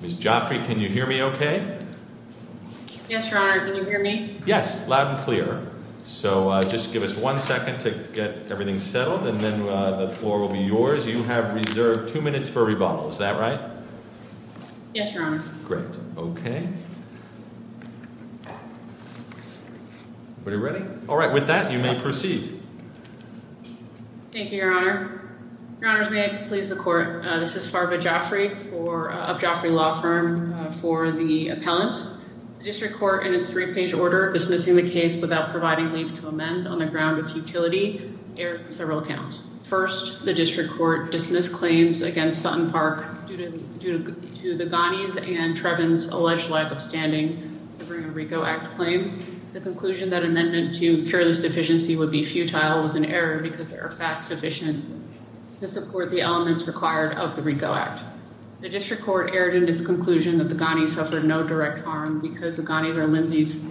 Ms. Joffrey, can you hear me okay? Yes, Your Honor. Can you hear me? Yes, loud and clear. So just give us one second to get everything settled and then the floor will be yours. You have reserved two minutes for rebuttal. Is that right? Yes, Your Honor. Great. Okay. Everybody ready? All right. With that, you may proceed. Thank you, Your Honor. Your Honors, may I please the Court? This is Farba Joffrey of Joffrey Law Firm for the appellants. The District Court, in its three-page order dismissing the case without providing leave to amend on the ground of futility, erred in several accounts. First, the District Court dismissed claims against SuttonPark due to the Goneys and Treven's alleged lack of standing during a RICO Act claim. The conclusion that an amendment to cure this deficiency would be futile was an error because there are facts sufficient to support the elements required of the RICO Act. The District Court erred in its conclusion that the Goneys suffered no direct harm because the Goneys are Lindsay's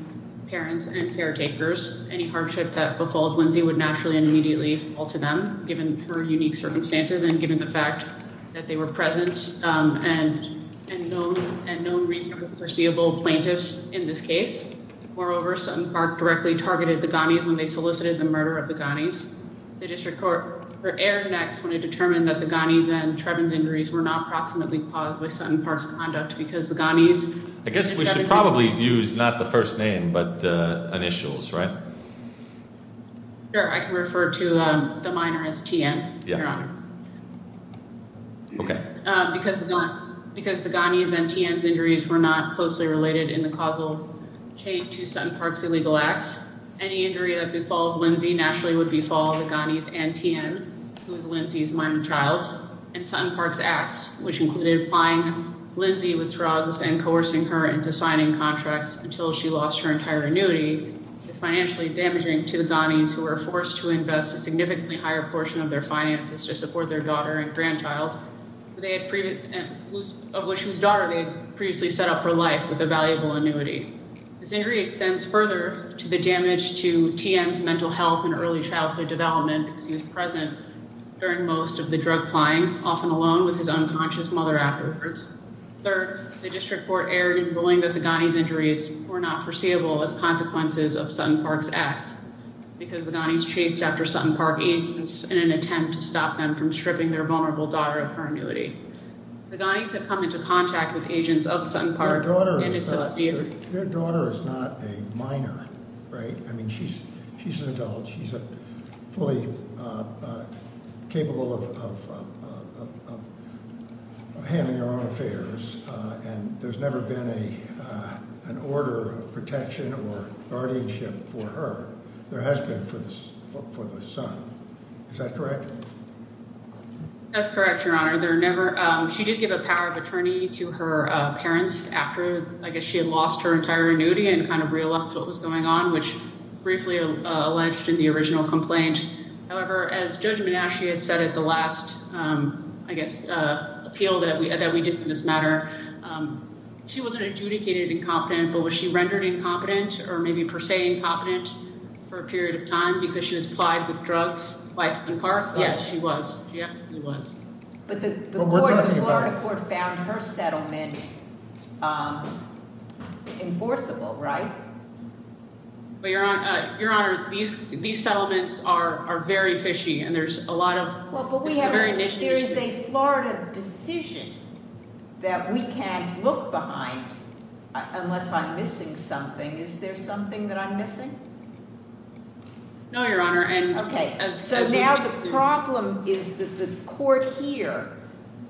parents and caretakers. Any hardship that befalls Lindsay would naturally and immediately fall to them, given her unique circumstances, and given the fact that they were present and known RICO foreseeable plaintiffs in this case. Moreover, SuttonPark directly targeted the Goneys when they solicited the murder of the Goneys. The District Court erred next when it determined that the Goneys and Treven's injuries were not proximately caused by SuttonPark's conduct I guess we should probably use, not the first name, but initials, right? Sure, I can refer to the minor as T.N. Because the Goneys and T.N.'s injuries were not closely related in the causal chain to SuttonPark's illegal acts, any injury that befalls Lindsay naturally would befall the Goneys and T.N., who is Lindsay's minor child, and SuttonPark's acts, which included buying Lindsay with drugs and coercing her into signing contracts until she lost her entire annuity, is financially damaging to the Goneys who were forced to invest a significantly higher portion of their finances to support their daughter and grandchild, of which whose daughter they had previously set up for life with a valuable annuity. This injury extends further to the damage to T.N.'s mental health and early childhood development, because he was present during most of the drug plying, often alone with his unconscious mother afterwards. Third, the district court erred in ruling that the Goneys' injuries were not foreseeable as consequences of SuttonPark's acts, because the Goneys chased after SuttonPark agents in an attempt to stop them from stripping their vulnerable daughter of her annuity. The Goneys have come into contact with agents of SuttonPark and its subsidiary. Your daughter is not a minor, right? I mean, she's an adult. She's fully capable of handling her own affairs, and there's never been an order of protection or guardianship for her. There has been for the son. Is that correct? That's correct, Your Honor. She did give a power of attorney to her parents after, I guess, she had lost her entire annuity and kind of realized what was going on, which briefly alleged in the original complaint. However, as Judge Menasche had said at the last, I guess, appeal that we did in this matter, she wasn't adjudicated incompetent, but was she rendered incompetent or maybe per se incompetent for a period of time because she was plied with drugs by SuttonPark? Yes, she was. But the Florida court found her settlement enforceable, right? Your Honor, these settlements are very fishy, and there's a lot of – it's a very niche issue. There is a Florida decision that we can't look behind unless I'm missing something. Is there something that I'm missing? No, Your Honor. Okay. So now the problem is that the court here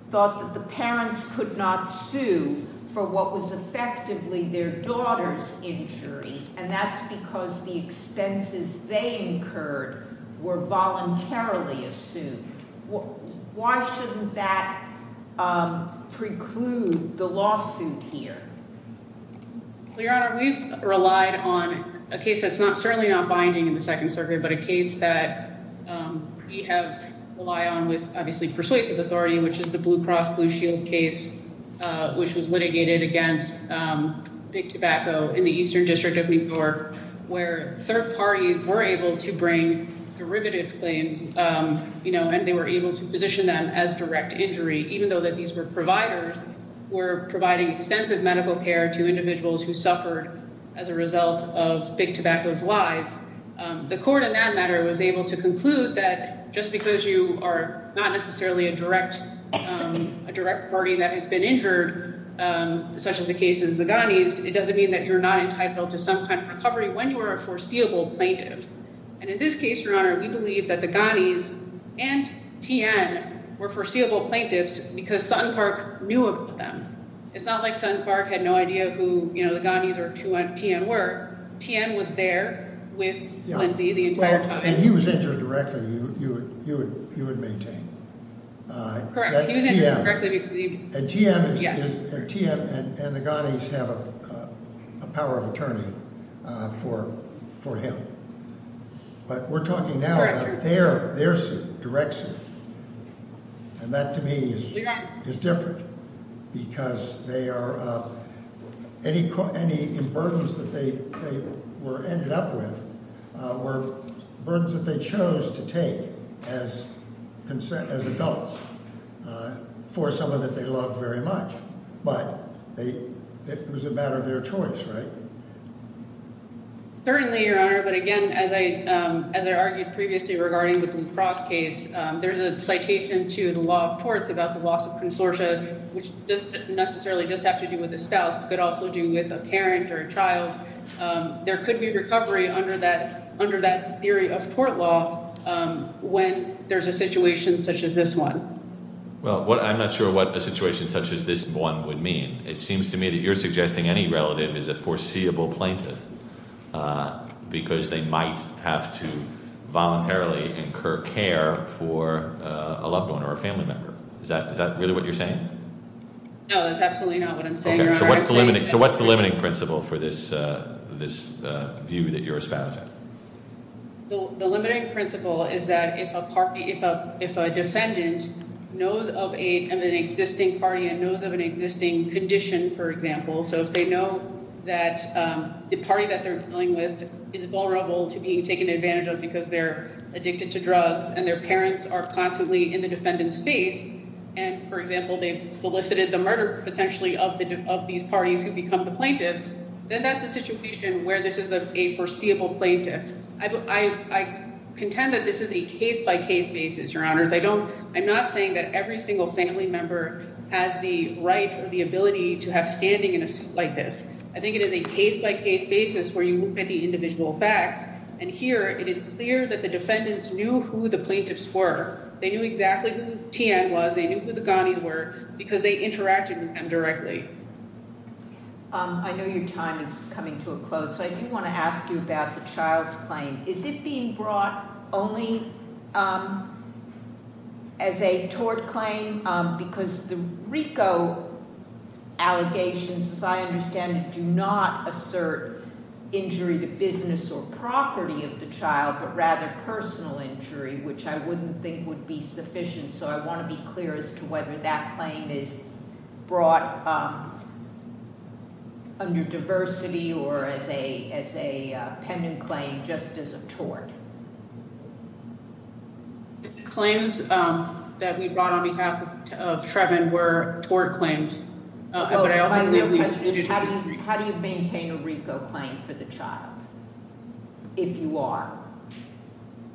thought that the parents could not sue for what was effectively their daughter's injury, and that's because the expenses they incurred were voluntarily assumed. Why shouldn't that preclude the lawsuit here? Well, Your Honor, we've relied on a case that's certainly not binding in the Second Circuit, but a case that we have relied on with, obviously, persuasive authority, which is the Blue Cross Blue Shield case, which was litigated against Big Tobacco in the Eastern District of New York, where third parties were able to bring derivative claims, and they were able to position them as direct injury, even though that these were providers who were providing extensive medical care to individuals who suffered as a result of Big Tobacco's lies. The court, in that matter, was able to conclude that just because you are not necessarily a direct party that has been injured, such as the case of the Ghanis, it doesn't mean that you're not entitled to some kind of recovery when you're a foreseeable plaintiff. And in this case, Your Honor, we believe that the Ghanis and Tien were foreseeable plaintiffs because Sutton Park knew about them. It's not like Sutton Park had no idea who, you know, the Ghanis or Tien were. Tien was there with Lindsay the entire time. And he was injured directly, you would maintain. Correct. He was injured directly. And Tien and the Ghanis have a power of attorney for him. But we're talking now about their suit, direct suit, and that to me is different because they are – any burdens that they were ended up with were burdens that they chose to take as adults for someone that they loved very much. But it was a matter of their choice, right? Certainly, Your Honor. But again, as I argued previously regarding the Blue Cross case, there's a citation to the law of torts about the loss of consortia, which doesn't necessarily just have to do with a spouse. It could also do with a parent or a child. There could be recovery under that theory of tort law when there's a situation such as this one. Well, I'm not sure what a situation such as this one would mean. It seems to me that you're suggesting any relative is a foreseeable plaintiff because they might have to voluntarily incur care for a loved one or a family member. Is that really what you're saying? No, that's absolutely not what I'm saying, Your Honor. So what's the limiting principle for this view that you're espousing? The limiting principle is that if a defendant knows of an existing party and knows of an existing condition, for example, so if they know that the party that they're dealing with is vulnerable to being taken advantage of because they're addicted to drugs and their parents are constantly in the defendant's face and, for example, they've solicited the murder potentially of these parties who become the plaintiffs, then that's a situation where this is a foreseeable plaintiff. I contend that this is a case-by-case basis, Your Honors. I'm not saying that every single family member has the right or the ability to have standing in a suit like this. I think it is a case-by-case basis where you look at the individual facts, and here it is clear that the defendants knew who the plaintiffs were. They knew exactly who Tian was. They knew who the Ghanis were because they interacted with them directly. I know your time is coming to a close, so I do want to ask you about the child's claim. Is it being brought only as a tort claim? Because the RICO allegations, as I understand it, do not assert injury to business or property of the child but rather personal injury, which I wouldn't think would be sufficient, so I want to be clear as to whether that claim is brought under diversity or as a pending claim just as a tort. The claims that we brought on behalf of Trevin were tort claims. My real question is how do you maintain a RICO claim for the child if you are?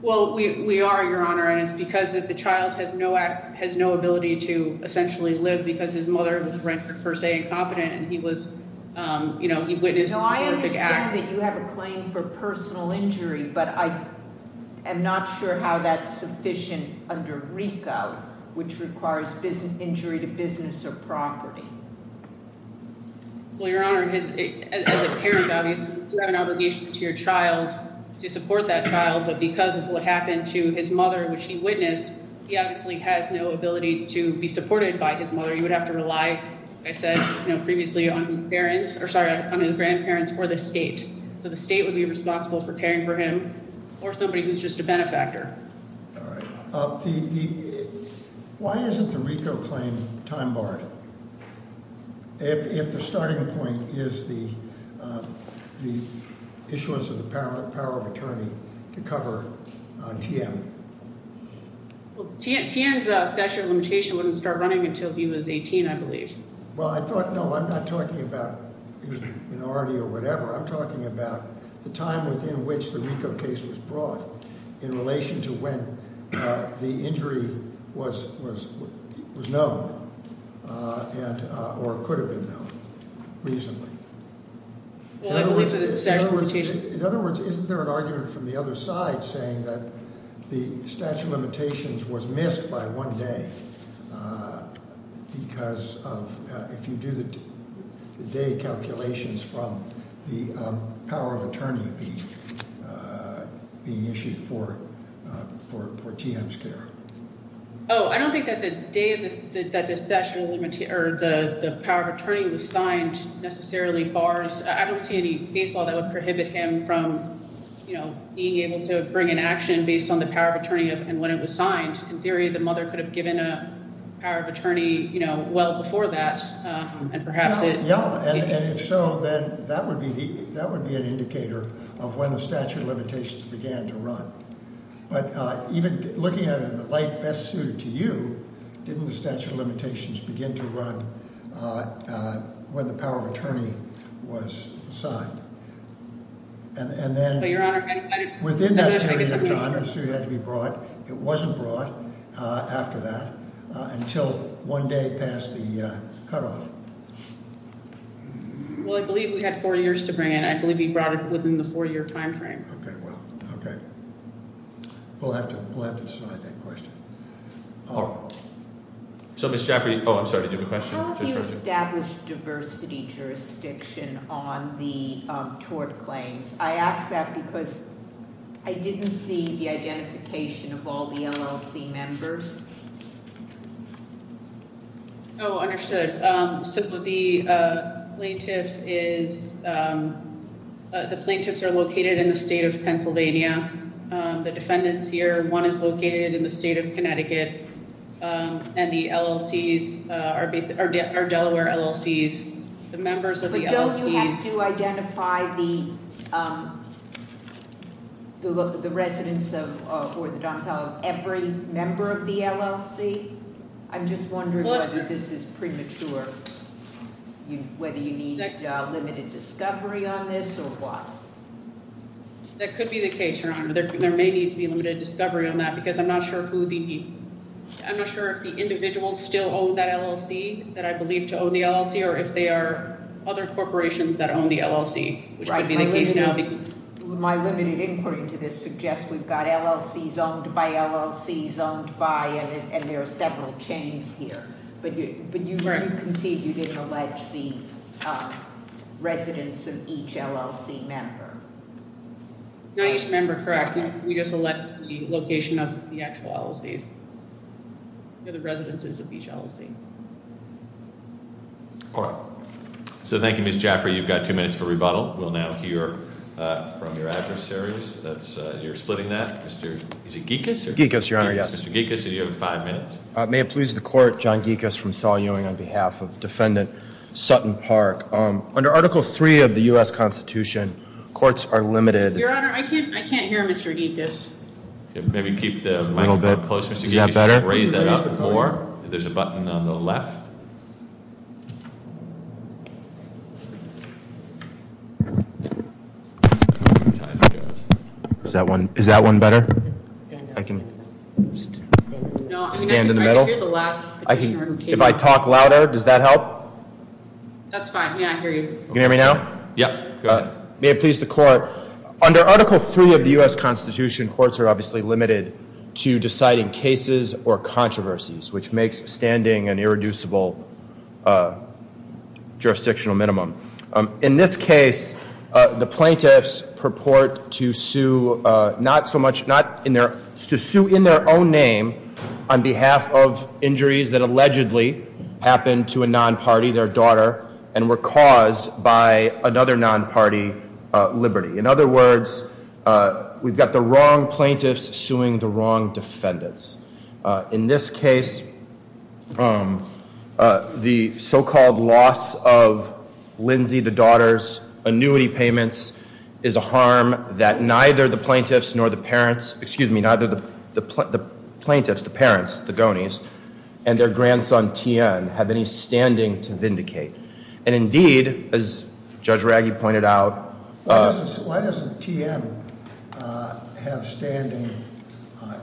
Well, we are, Your Honor, and it is because the child has no ability to essentially live because his mother was rent-per-per se incompetent and he witnessed horrific acts. I understand that you have a claim for personal injury, but I am not sure how that is sufficient under RICO, which requires injury to business or property. Well, Your Honor, as a parent, obviously, you have an obligation to your child to support that child, but because of what happened to his mother, which he witnessed, he obviously has no ability to be supported by his mother. You would have to rely, as I said previously, on the grandparents or the state. So the state would be responsible for caring for him or somebody who is just a benefactor. All right. Why isn't the RICO claim time-barred if the starting point is the issuance of the power of attorney to cover T.M.? Well, T.M.'s statute of limitation wouldn't start running until he was 18, I believe. Well, I thought, no, I'm not talking about an R.D. or whatever. I'm talking about the time within which the RICO case was brought in relation to when the injury was known or could have been known reasonably. In other words, isn't there an argument from the other side saying that the statute of limitations was missed by one day because of if you do the day calculations from the power of attorney being issued for T.M.'s care? Oh, I don't think that the day that the statute of limitations or the power of attorney was signed necessarily bars – I don't see any state law that would prohibit him from being able to bring an action based on the power of attorney and when it was signed. In theory, the mother could have given a power of attorney well before that and perhaps it – Yeah, and if so, then that would be an indicator of when the statute of limitations began to run. But even looking at it in the light best suited to you, didn't the statute of limitations begin to run when the power of attorney was signed? And then – But, Your Honor – It wasn't brought after that until one day past the cutoff. Well, I believe we had four years to bring it. I believe he brought it within the four-year timeframe. Okay, well, okay. We'll have to decide that question. All right. So, Ms. Jafferty – oh, I'm sorry, did you have a question? How have you established diversity jurisdiction on the tort claims? I ask that because I didn't see the identification of all the LLC members. Oh, understood. So, the plaintiff is – the plaintiffs are located in the state of Pennsylvania. The defendants here, one is located in the state of Connecticut, and the LLCs are Delaware LLCs. The members of the LLCs – But don't you have to identify the residents of – or the domicile of every member of the LLC? I'm just wondering whether this is premature. Whether you need limited discovery on this or what? That could be the case, Your Honor. There may need to be limited discovery on that because I'm not sure who the – I'm not sure if the individuals still own that LLC that I believe to own the LLC or if they are other corporations that own the LLC, which would be the case now. My limited inquiry to this suggests we've got LLCs owned by LLCs owned by, and there are several chains here. But you conceded you didn't allege the residents of each LLC member. Not each member, correct. We just allege the location of the actual LLCs, the residences of each LLC. All right. So thank you, Ms. Jaffray. You've got two minutes for rebuttal. We'll now hear from your adversaries. You're splitting that. Is it Gekas? Gekas, Your Honor, yes. Mr. Gekas, you have five minutes. May it please the Court, John Gekas from Saul Ewing on behalf of Defendant Sutton Park. Under Article III of the U.S. Constitution, courts are limited – Your Honor, I can't hear Mr. Gekas. Maybe keep the microphone close, Mr. Gekas. Is that better? Raise that up more. There's a button on the left. Is that one better? I can stand in the middle. If I talk louder, does that help? That's fine. Yeah, I hear you. Can you hear me now? Yeah. May it please the Court, under Article III of the U.S. Constitution, courts are obviously limited to deciding cases or controversies, which makes standing an irreducible jurisdictional minimum. In this case, the plaintiffs purport to sue in their own name on behalf of injuries that allegedly happened to a non-party, their daughter, and were caused by another non-party, Liberty. In other words, we've got the wrong plaintiffs suing the wrong defendants. In this case, the so-called loss of Lindsay, the daughter's, annuity payments is a harm that neither the plaintiffs nor the parents – excuse me, neither the plaintiffs, the parents, the gonies, and their grandson, Tien, have any standing to vindicate. And indeed, as Judge Raggi pointed out- Why doesn't Tien have standing,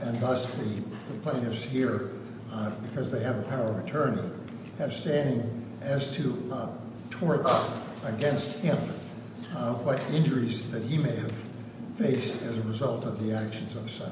and thus the plaintiffs here, because they have the power of attorney, have standing as to torts against him, what injuries that he may have faced as a result of the actions of a son?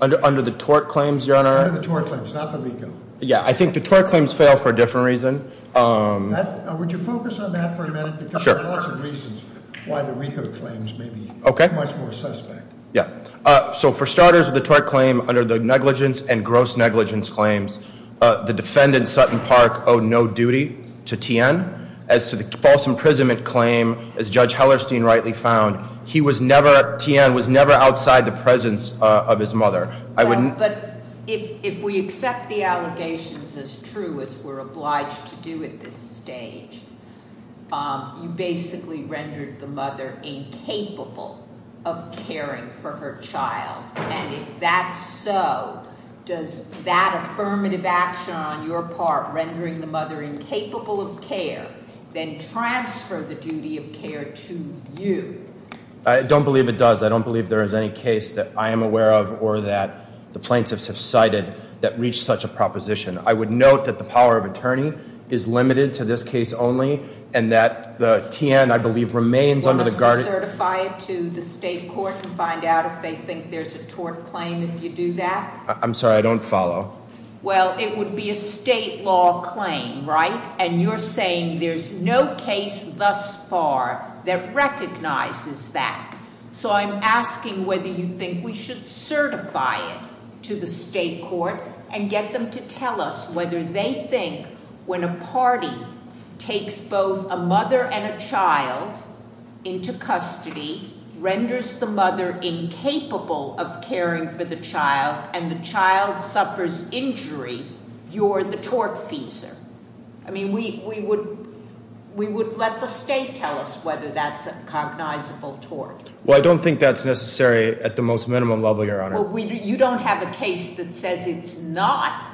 Under the tort claims, Your Honor? Under the tort claims, not the RICO. Yeah, I think the tort claims fail for a different reason. Would you focus on that for a minute? Sure. Because there are lots of reasons why the RICO claims may be much more suspect. Yeah. So for starters, the tort claim under the negligence and gross negligence claims, the defendant, Sutton Park, owed no duty to Tien as to the false imprisonment claim, as Judge Hellerstein rightly found. He was never, Tien was never outside the presence of his mother. But if we accept the allegations as true as we're obliged to do at this stage, you basically rendered the mother incapable of caring for her child. And if that's so, does that affirmative action on your part, rendering the mother incapable of care, then transfer the duty of care to you? I don't believe it does. I don't believe there is any case that I am aware of or that the plaintiffs have cited that reached such a proposition. I would note that the power of attorney is limited to this case only and that Tien, I believe, remains under the guard. Well, must we certify it to the state court and find out if they think there's a tort claim if you do that? I'm sorry, I don't follow. Well, it would be a state law claim, right? And you're saying there's no case thus far that recognizes that. So I'm asking whether you think we should certify it to the state court and get them to tell us whether they think when a party takes both a mother and a child into custody, renders the mother incapable of caring for the child, and the child suffers injury, you're the tortfeasor. I mean, we would let the state tell us whether that's a cognizable tort. Well, I don't think that's necessary at the most minimum level, Your Honor. Well, you don't have a case that says it's not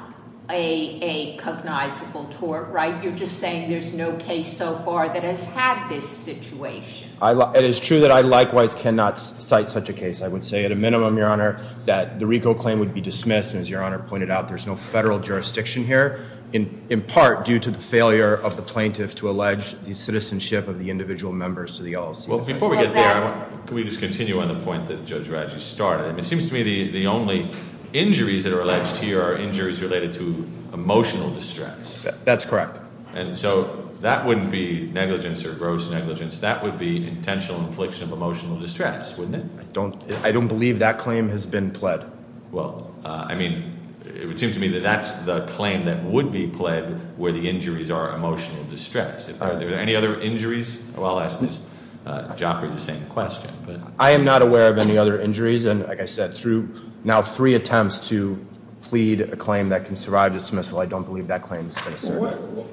a cognizable tort, right? You're just saying there's no case so far that has had this situation. It is true that I likewise cannot cite such a case. I would say at a minimum, Your Honor, that the RICO claim would be dismissed. And as Your Honor pointed out, there's no federal jurisdiction here. In part due to the failure of the plaintiff to allege the citizenship of the individual members to the LLC. Well, before we get there, can we just continue on the point that Judge Radji started? It seems to me the only injuries that are alleged here are injuries related to emotional distress. That's correct. And so that wouldn't be negligence or gross negligence. That would be intentional infliction of emotional distress, wouldn't it? I don't believe that claim has been pled. Well, I mean, it would seem to me that that's the claim that would be pled where the injuries are emotional distress. Are there any other injuries? Well, I'll ask Ms. Joffrey the same question. I am not aware of any other injuries. And like I said, through now three attempts to plead a claim that can survive dismissal, I don't believe that claim has been asserted.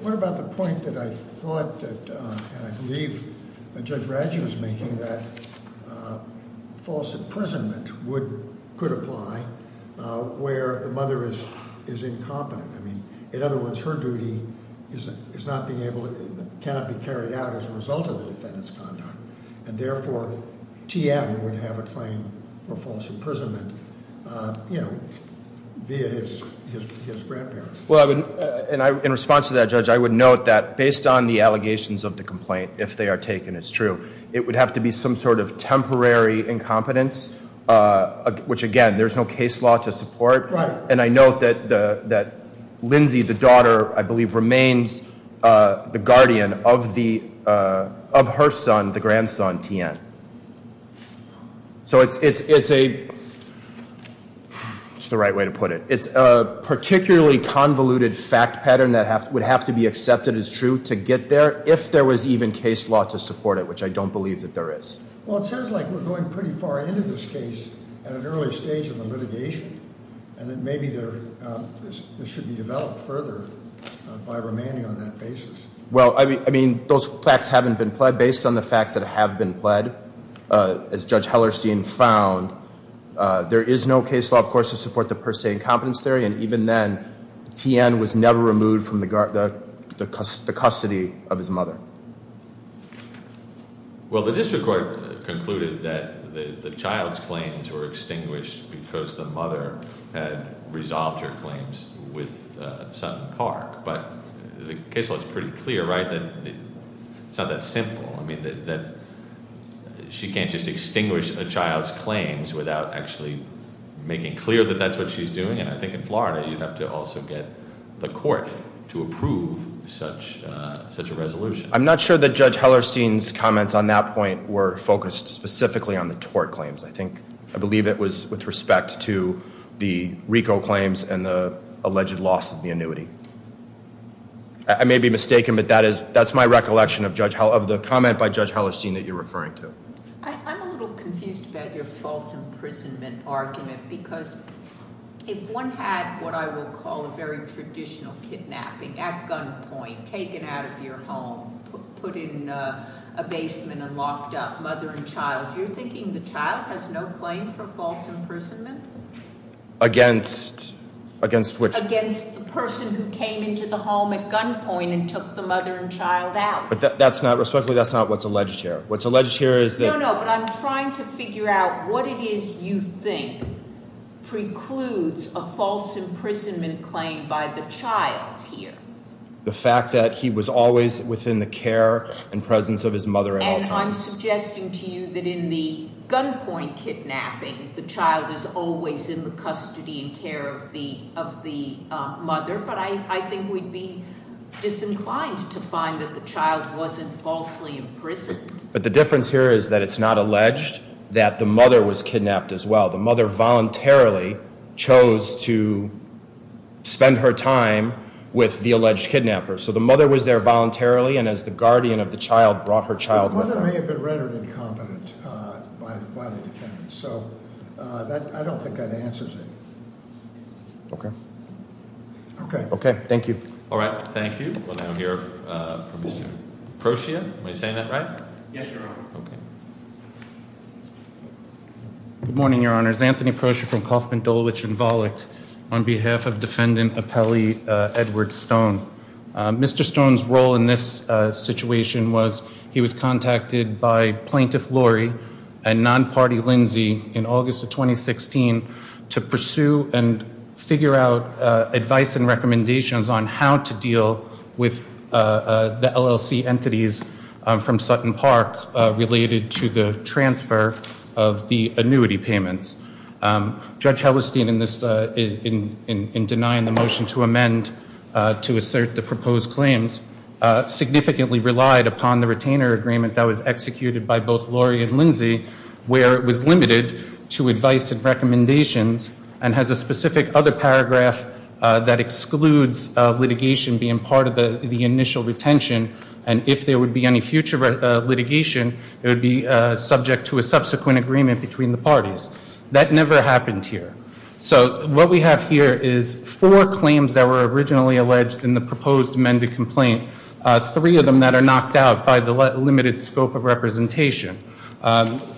What about the point that I thought that, and I believe Judge Radji was making, that false imprisonment could apply where the mother is incompetent. In other words, her duty is not being able, cannot be carried out as a result of the defendant's conduct. And therefore, Tia would have a claim for false imprisonment via his grandparents. In response to that, Judge, I would note that based on the allegations of the complaint, if they are taken as true, it would have to be some sort of temporary incompetence, which again, there's no case law to support. And I note that Lindsay, the daughter, I believe, remains the guardian of her son, the grandson, Tien. So it's a, it's the right way to put it. It's a particularly convoluted fact pattern that would have to be accepted as true to get there, if there was even case law to support it, which I don't believe that there is. Well, it sounds like we're going pretty far into this case at an early stage of the litigation. And then maybe there should be developed further by remaining on that basis. Well, I mean, those facts haven't been pled based on the facts that have been pled. As Judge Hellerstein found, there is no case law, of course, to support the per se incompetence theory. And even then, Tien was never removed from the custody of his mother. Well, the district court concluded that the child's claims were extinguished because the mother had resolved her claims with Sutton Park. But the case law is pretty clear, right? It's not that simple. She can't just extinguish a child's claims without actually making clear that that's what she's doing. And I think in Florida, you'd have to also get the court to approve such a resolution. I'm not sure that Judge Hellerstein's comments on that point were focused specifically on the tort claims. I think, I believe it was with respect to the RICO claims and the alleged loss of the annuity. I may be mistaken, but that's my recollection of the comment by Judge Hellerstein that you're referring to. I'm a little confused about your false imprisonment argument, because if one had what I would call a very traditional kidnapping at gunpoint, taken out of your home, put in a basement and locked up, mother and child, you're thinking the child has no claim for false imprisonment? Against which? Against the person who came into the home at gunpoint and took the mother and child out. But that's not, respectfully, that's not what's alleged here. What's alleged here is that- No, no, but I'm trying to figure out what it is you think precludes a false imprisonment claim by the child here. The fact that he was always within the care and presence of his mother at all times. No, I'm suggesting to you that in the gunpoint kidnapping, the child is always in the custody and care of the mother. But I think we'd be disinclined to find that the child wasn't falsely imprisoned. But the difference here is that it's not alleged that the mother was kidnapped as well. The mother voluntarily chose to spend her time with the alleged kidnapper. So the mother was there voluntarily and as the guardian of the child brought her child with her. The mother may have been rendered incompetent by the defendant. So I don't think that answers it. Okay. Okay. Okay, thank you. All right, thank you. We'll now hear from Mr. Procia. Am I saying that right? Yes, Your Honor. Okay. Good morning, Your Honors. My name is Anthony Procia from Kauffman, Dulwich, and Volick on behalf of Defendant Appellee Edward Stone. Mr. Stone's role in this situation was he was contacted by Plaintiff Lori and non-party Lindsay in August of 2016 to pursue and figure out advice and recommendations on how to deal with the LLC entities from Sutton Park related to the transfer of the annuity payments. Judge Hellerstein in denying the motion to amend to assert the proposed claims significantly relied upon the retainer agreement that was executed by both Lori and Lindsay where it was limited to advice and recommendations and has a specific other paragraph that excludes litigation being part of the initial retention and if there would be any future litigation, it would be subject to a subsequent agreement between the parties. That never happened here. So what we have here is four claims that were originally alleged in the proposed amended complaint, three of them that are knocked out by the limited scope of representation.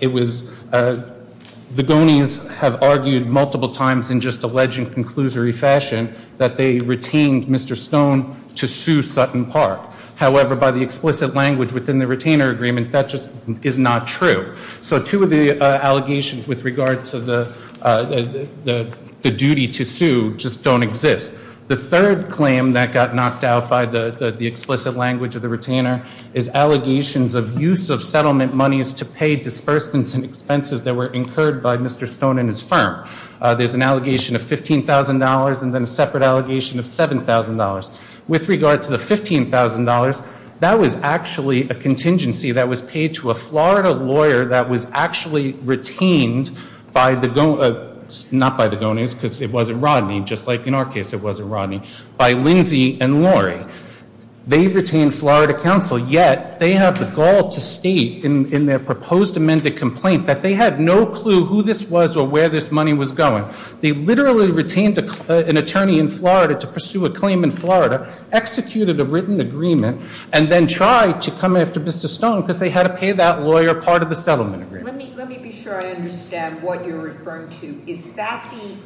It was the Gonies have argued multiple times in just alleged and conclusory fashion that they retained Mr. Stone to sue Sutton Park. However, by the explicit language within the retainer agreement, that just is not true. So two of the allegations with regards to the duty to sue just don't exist. The third claim that got knocked out by the explicit language of the retainer is allegations of use of settlement monies to pay disbursements and expenses that were incurred by Mr. Stone and his firm. There's an allegation of $15,000 and then a separate allegation of $7,000. With regard to the $15,000, that was actually a contingency that was paid to a Florida lawyer that was actually retained by the Gonies, not by the Gonies because it wasn't Rodney, just like in our case it wasn't Rodney, by Lindsay and Lori. They've retained Florida counsel, yet they have the gall to state in their proposed amended complaint that they had no clue who this was or where this money was going. They literally retained an attorney in Florida to pursue a claim in Florida, executed a written agreement, and then tried to come after Mr. Stone because they had to pay that lawyer part of the settlement agreement. Let me be sure I understand what you're referring to. Is that the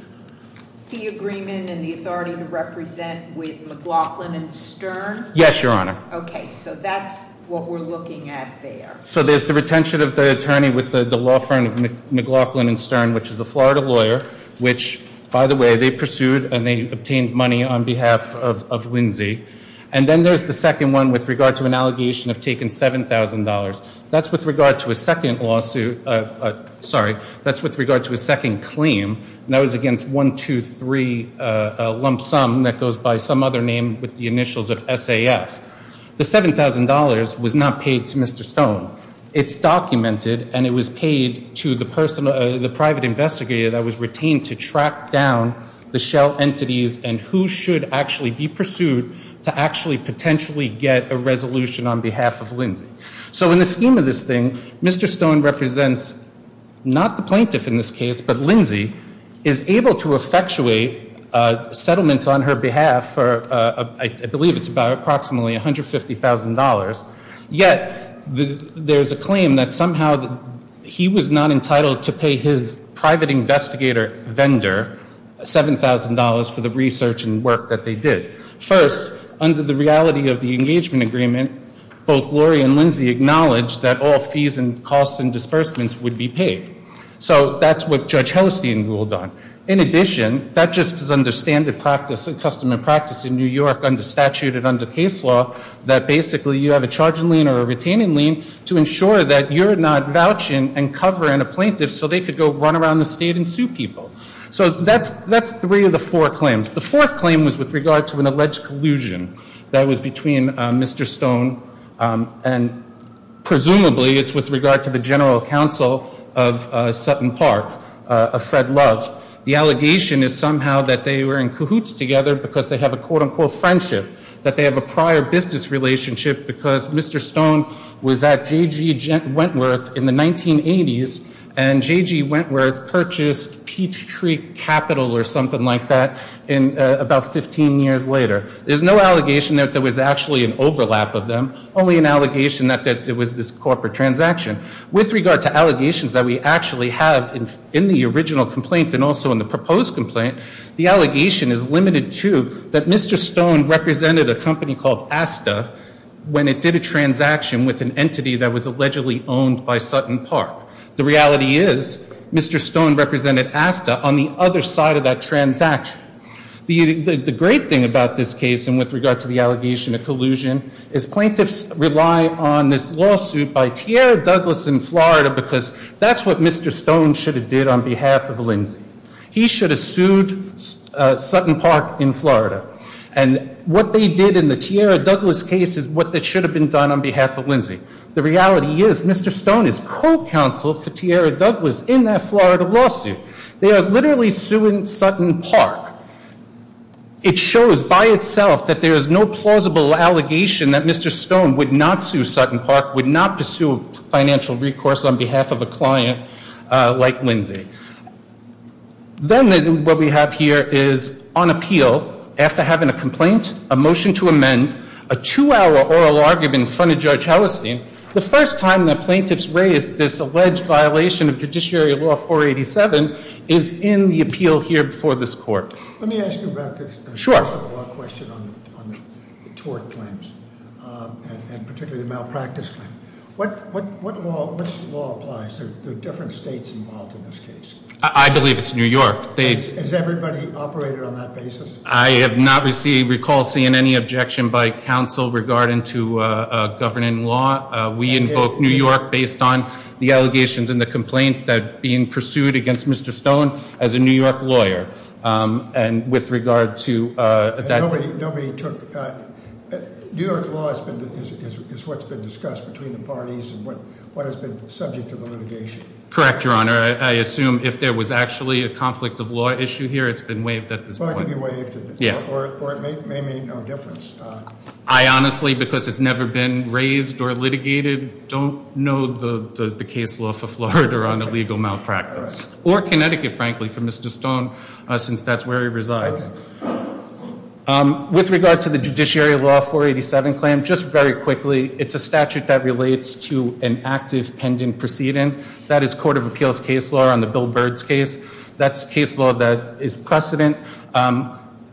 fee agreement and the authority to represent with McLaughlin and Stern? Yes, Your Honor. Okay, so that's what we're looking at there. So there's the retention of the attorney with the law firm of McLaughlin and Stern, which is a Florida lawyer which, by the way, they pursued and they obtained money on behalf of Lindsay. And then there's the second one with regard to an allegation of taking $7,000. That's with regard to a second lawsuit, sorry, that's with regard to a second claim, and that was against 123 Lump Sum that goes by some other name with the initials of SAF. The $7,000 was not paid to Mr. Stone. It's documented and it was paid to the private investigator that was retained to track down the shell entities and who should actually be pursued to actually potentially get a resolution on behalf of Lindsay. So in the scheme of this thing, Mr. Stone represents not the plaintiff in this case, but Lindsay is able to effectuate settlements on her behalf for I believe it's about approximately $150,000. Yet there's a claim that somehow he was not entitled to pay his private investigator vendor $7,000 for the research and work that they did. First, under the reality of the engagement agreement, both Lori and Lindsay acknowledged that all fees and costs and disbursements would be paid. So that's what Judge Hellestein ruled on. In addition, that just is under standard practice and customary practice in New York under statute and under case law that basically you have a charging lien or a retaining lien to ensure that you're not vouching and covering a plaintiff so they could go run around the state and sue people. So that's three of the four claims. The fourth claim was with regard to an alleged collusion that was between Mr. Stone and presumably it's with regard to the general counsel of Sutton Park, Fred Love. The allegation is somehow that they were in cahoots together because they have a quote-unquote friendship, that they have a prior business relationship because Mr. Stone was at J.G. Wentworth in the 1980s and J.G. Wentworth purchased Peachtree Capital or something like that about 15 years later. There's no allegation that there was actually an overlap of them, only an allegation that it was this corporate transaction. With regard to allegations that we actually have in the original complaint and also in the proposed complaint, the allegation is limited to that Mr. Stone represented a company called Asta when it did a transaction with an entity that was allegedly owned by Sutton Park. The reality is Mr. Stone represented Asta on the other side of that transaction. The great thing about this case and with regard to the allegation of collusion is plaintiffs rely on this lawsuit by Tierra Douglas in Florida because that's what Mr. Stone should have did on behalf of Lindsay. He should have sued Sutton Park in Florida. And what they did in the Tierra Douglas case is what should have been done on behalf of Lindsay. The reality is Mr. Stone is co-counsel for Tierra Douglas in that Florida lawsuit. They are literally suing Sutton Park. It shows by itself that there is no plausible allegation that Mr. Stone would not sue Sutton Park, would not pursue financial recourse on behalf of a client like Lindsay. Then what we have here is on appeal, after having a complaint, a motion to amend, a two-hour oral argument in front of Judge Hellestein, the first time that plaintiffs raise this alleged violation of Judiciary Law 487 is in the appeal here before this court. Let me ask you about this. Sure. Law question on the tort claims and particularly the malpractice claim. Which law applies? There are different states involved in this case. I believe it's New York. Has everybody operated on that basis? I have not received, recall seeing any objection by counsel regarding to governing law. We invoke New York based on the allegations in the complaint that being pursued against Mr. Stone as a New York lawyer. And with regard to that- Nobody took, New York law is what's been discussed between the parties and what has been subject to the litigation. Correct, Your Honor. I assume if there was actually a conflict of law issue here, it's been waived at this point. It's going to be waived, or it may make no difference. I honestly, because it's never been raised or litigated, don't know the case law for Florida on illegal malpractice. Or Connecticut, frankly, for Mr. Stone, since that's where he resides. With regard to the Judiciary Law 487 claim, just very quickly, it's a statute that relates to an active pending proceeding. That is Court of Appeals case law on the Bill Byrd's case. That's case law that is precedent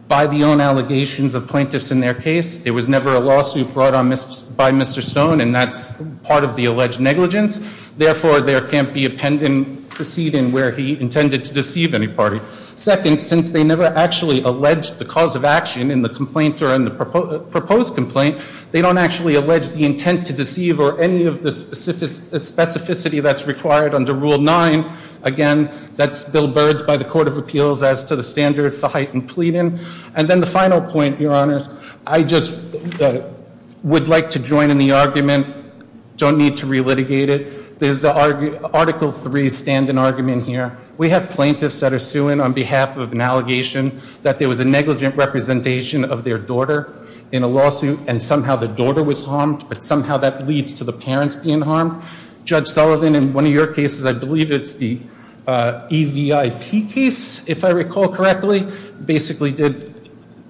by the own allegations of plaintiffs in their case. There was never a lawsuit brought on by Mr. Stone, and that's part of the alleged negligence. Therefore, there can't be a pending proceeding where he intended to deceive any party. Second, since they never actually alleged the cause of action in the complaint or in the proposed complaint, they don't actually allege the intent to deceive or any of the specificity that's required under Rule 9. Again, that's Bill Byrd's by the Court of Appeals as to the standards for heightened pleading. And then the final point, Your Honors, I just would like to join in the argument. Don't need to re-litigate it. There's the Article 3 stand in argument here. We have plaintiffs that are suing on behalf of an allegation that there was a negligent representation of their daughter in a lawsuit, and somehow the daughter was harmed, but somehow that leads to the parents being harmed. Judge Sullivan, in one of your cases, I believe it's the EVIP case, if I recall correctly, basically did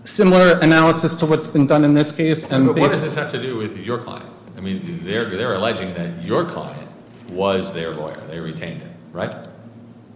similar analysis to what's been done in this case. But what does this have to do with your client? I mean, they're alleging that your client was their lawyer. They retained him, right?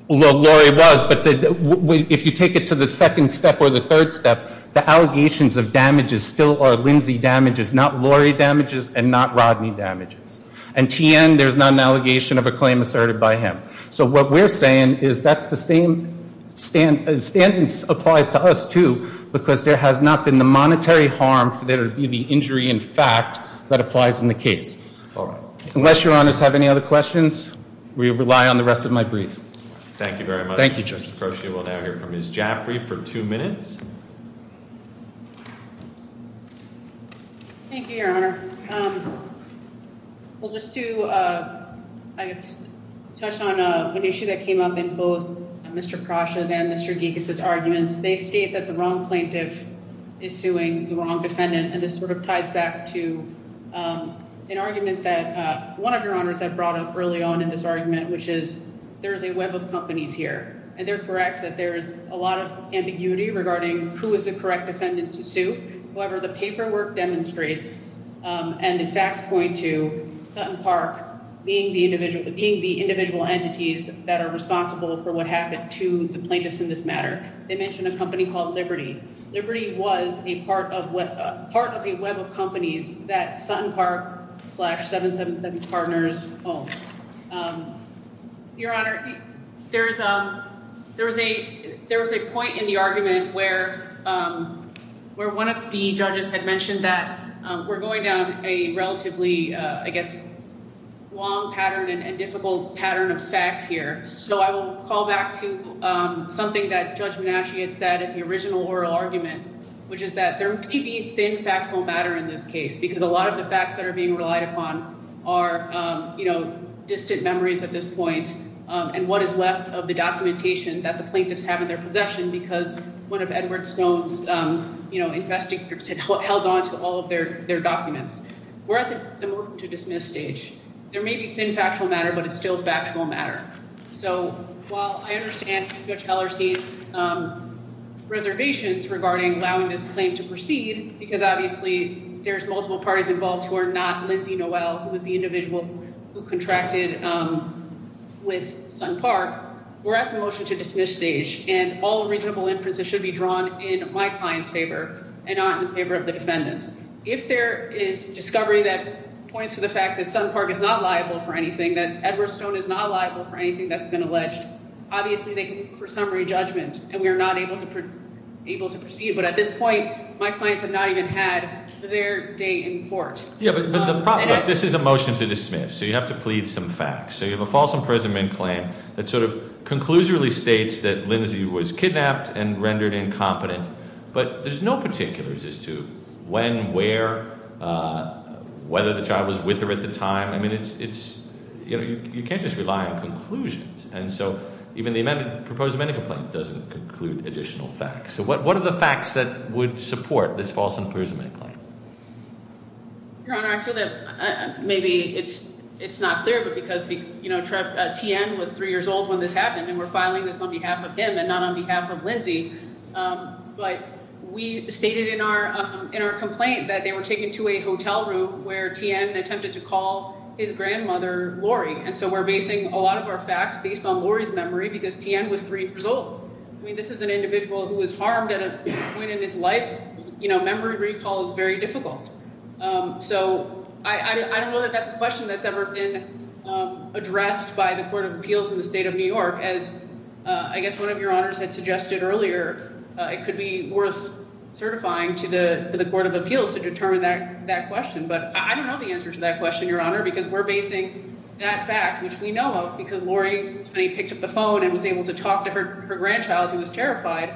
Well, Lori was, but if you take it to the second step or the third step, the allegations of damages still are Lindsay damages, not Lori damages and not Rodney damages. And T.N., there's not an allegation of a claim asserted by him. So what we're saying is that's the same standards applies to us, too, because there has not been the monetary harm for there to be the injury in fact that applies in the case. All right. Unless Your Honors have any other questions, we rely on the rest of my brief. Thank you very much. Thank you, Justice Croce. We'll now hear from Ms. Jaffrey for two minutes. Thank you, Your Honor. Well, just to touch on an issue that came up in both Mr. Crosha's and Mr. Gekas's arguments, they state that the wrong plaintiff is suing the wrong defendant, and this sort of ties back to an argument that one of Your Honors had brought up early on in this argument, which is there is a web of companies here, and they're correct that there is a lot of ambiguity regarding who is the correct defendant to sue. However, the paperwork demonstrates and the facts point to Sutton Park being the individual entities that are responsible for what happened to the plaintiffs in this matter. They mention a company called Liberty. Liberty was a part of a web of companies that Sutton Park slash 777 Partners owned. Your Honor, there was a point in the argument where one of the judges had mentioned that we're going down a relatively, I guess, long pattern and difficult pattern of facts here. So I will call back to something that Judge Menasche had said in the original oral argument, which is that there may be thin, factual matter in this case because a lot of the facts that are being relied upon are, you know, distant memories at this point, and what is left of the documentation that the plaintiffs have in their possession because one of Edward Stone's, you know, investing groups had held on to all of their documents. We're at the move-to-dismiss stage. There may be thin, factual matter, but it's still factual matter. So while I understand Judge Hellerstein's reservations regarding allowing this claim to proceed, because obviously there's multiple parties involved who are not Lindsay Noel, who was the individual who contracted with Sutton Park, we're at the motion-to-dismiss stage, and all reasonable inferences should be drawn in my client's favor and not in favor of the defendants. If there is discovery that points to the fact that Sutton Park is not liable for anything, that Edward Stone is not liable for anything that's been alleged, obviously they can look for summary judgment, and we are not able to proceed. But at this point, my clients have not even had their day in court. Yeah, but the problem, this is a motion-to-dismiss, so you have to plead some facts. So you have a false imprisonment claim that sort of conclusively states that Lindsay was kidnapped and rendered incompetent, but there's no particulars as to when, where, whether the child was with her at the time. I mean, it's, you know, you can't just rely on conclusions. And so even the proposed amendment complaint doesn't conclude additional facts. So what are the facts that would support this false imprisonment claim? Your Honor, I feel that maybe it's not clear, but because, you know, T.N. was 3 years old when this happened, and we're filing this on behalf of him and not on behalf of Lindsay, but we stated in our complaint that they were taken to a hotel room where T.N. attempted to call his grandmother Lori. And so we're basing a lot of our facts based on Lori's memory because T.N. was 3 years old. I mean, this is an individual who was harmed at a point in his life. You know, memory recall is very difficult. So I don't know that that's a question that's ever been addressed by the Court of Appeals in the state of New York. As I guess one of your honors had suggested earlier, it could be worth certifying to the Court of Appeals to determine that question. But I don't know the answer to that question, Your Honor, because we're basing that fact, which we know of, because Lori picked up the phone and was able to talk to her grandchild who was terrified.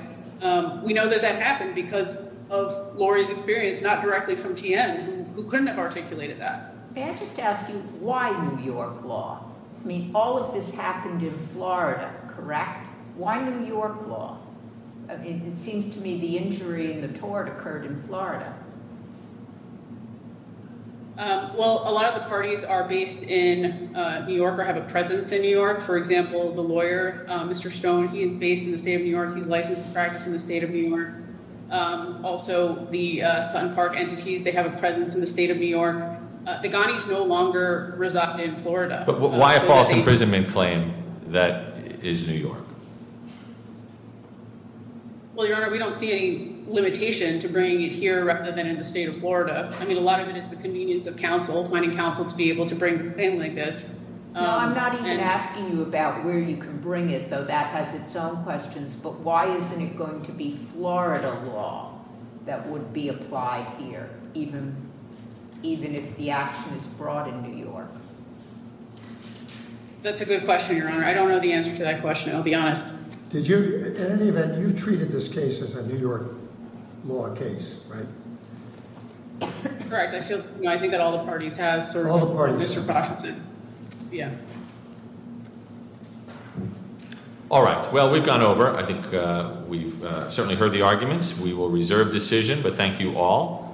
We know that that happened because of Lori's experience, not directly from T.N., who couldn't have articulated that. May I just ask you why New York law? I mean, all of this happened in Florida, correct? Why New York law? It seems to me the injury and the tort occurred in Florida. Well, a lot of the parties are based in New York or have a presence in New York. For example, the lawyer, Mr. Stone, he is based in the state of New York. He's licensed to practice in the state of New York. Also, the Sun Park entities, they have a presence in the state of New York. The Ghanis no longer reside in Florida. But why a false imprisonment claim that is New York? Well, Your Honor, we don't see any limitation to bringing it here rather than in the state of Florida. I mean a lot of it is the convenience of counsel, finding counsel to be able to bring a thing like this. I'm not even asking you about where you can bring it, though. That has its own questions. But why isn't it going to be Florida law that would be applied here, even if the action is brought in New York? That's a good question, Your Honor. I don't know the answer to that question. I'll be honest. In any event, you've treated this case as a New York law case, right? Correct. I think that all the parties have, sir. All the parties have. Mr. Boxton. Yeah. All right. Well, we've gone over. I think we've certainly heard the arguments. We will reserve decision, but thank you all.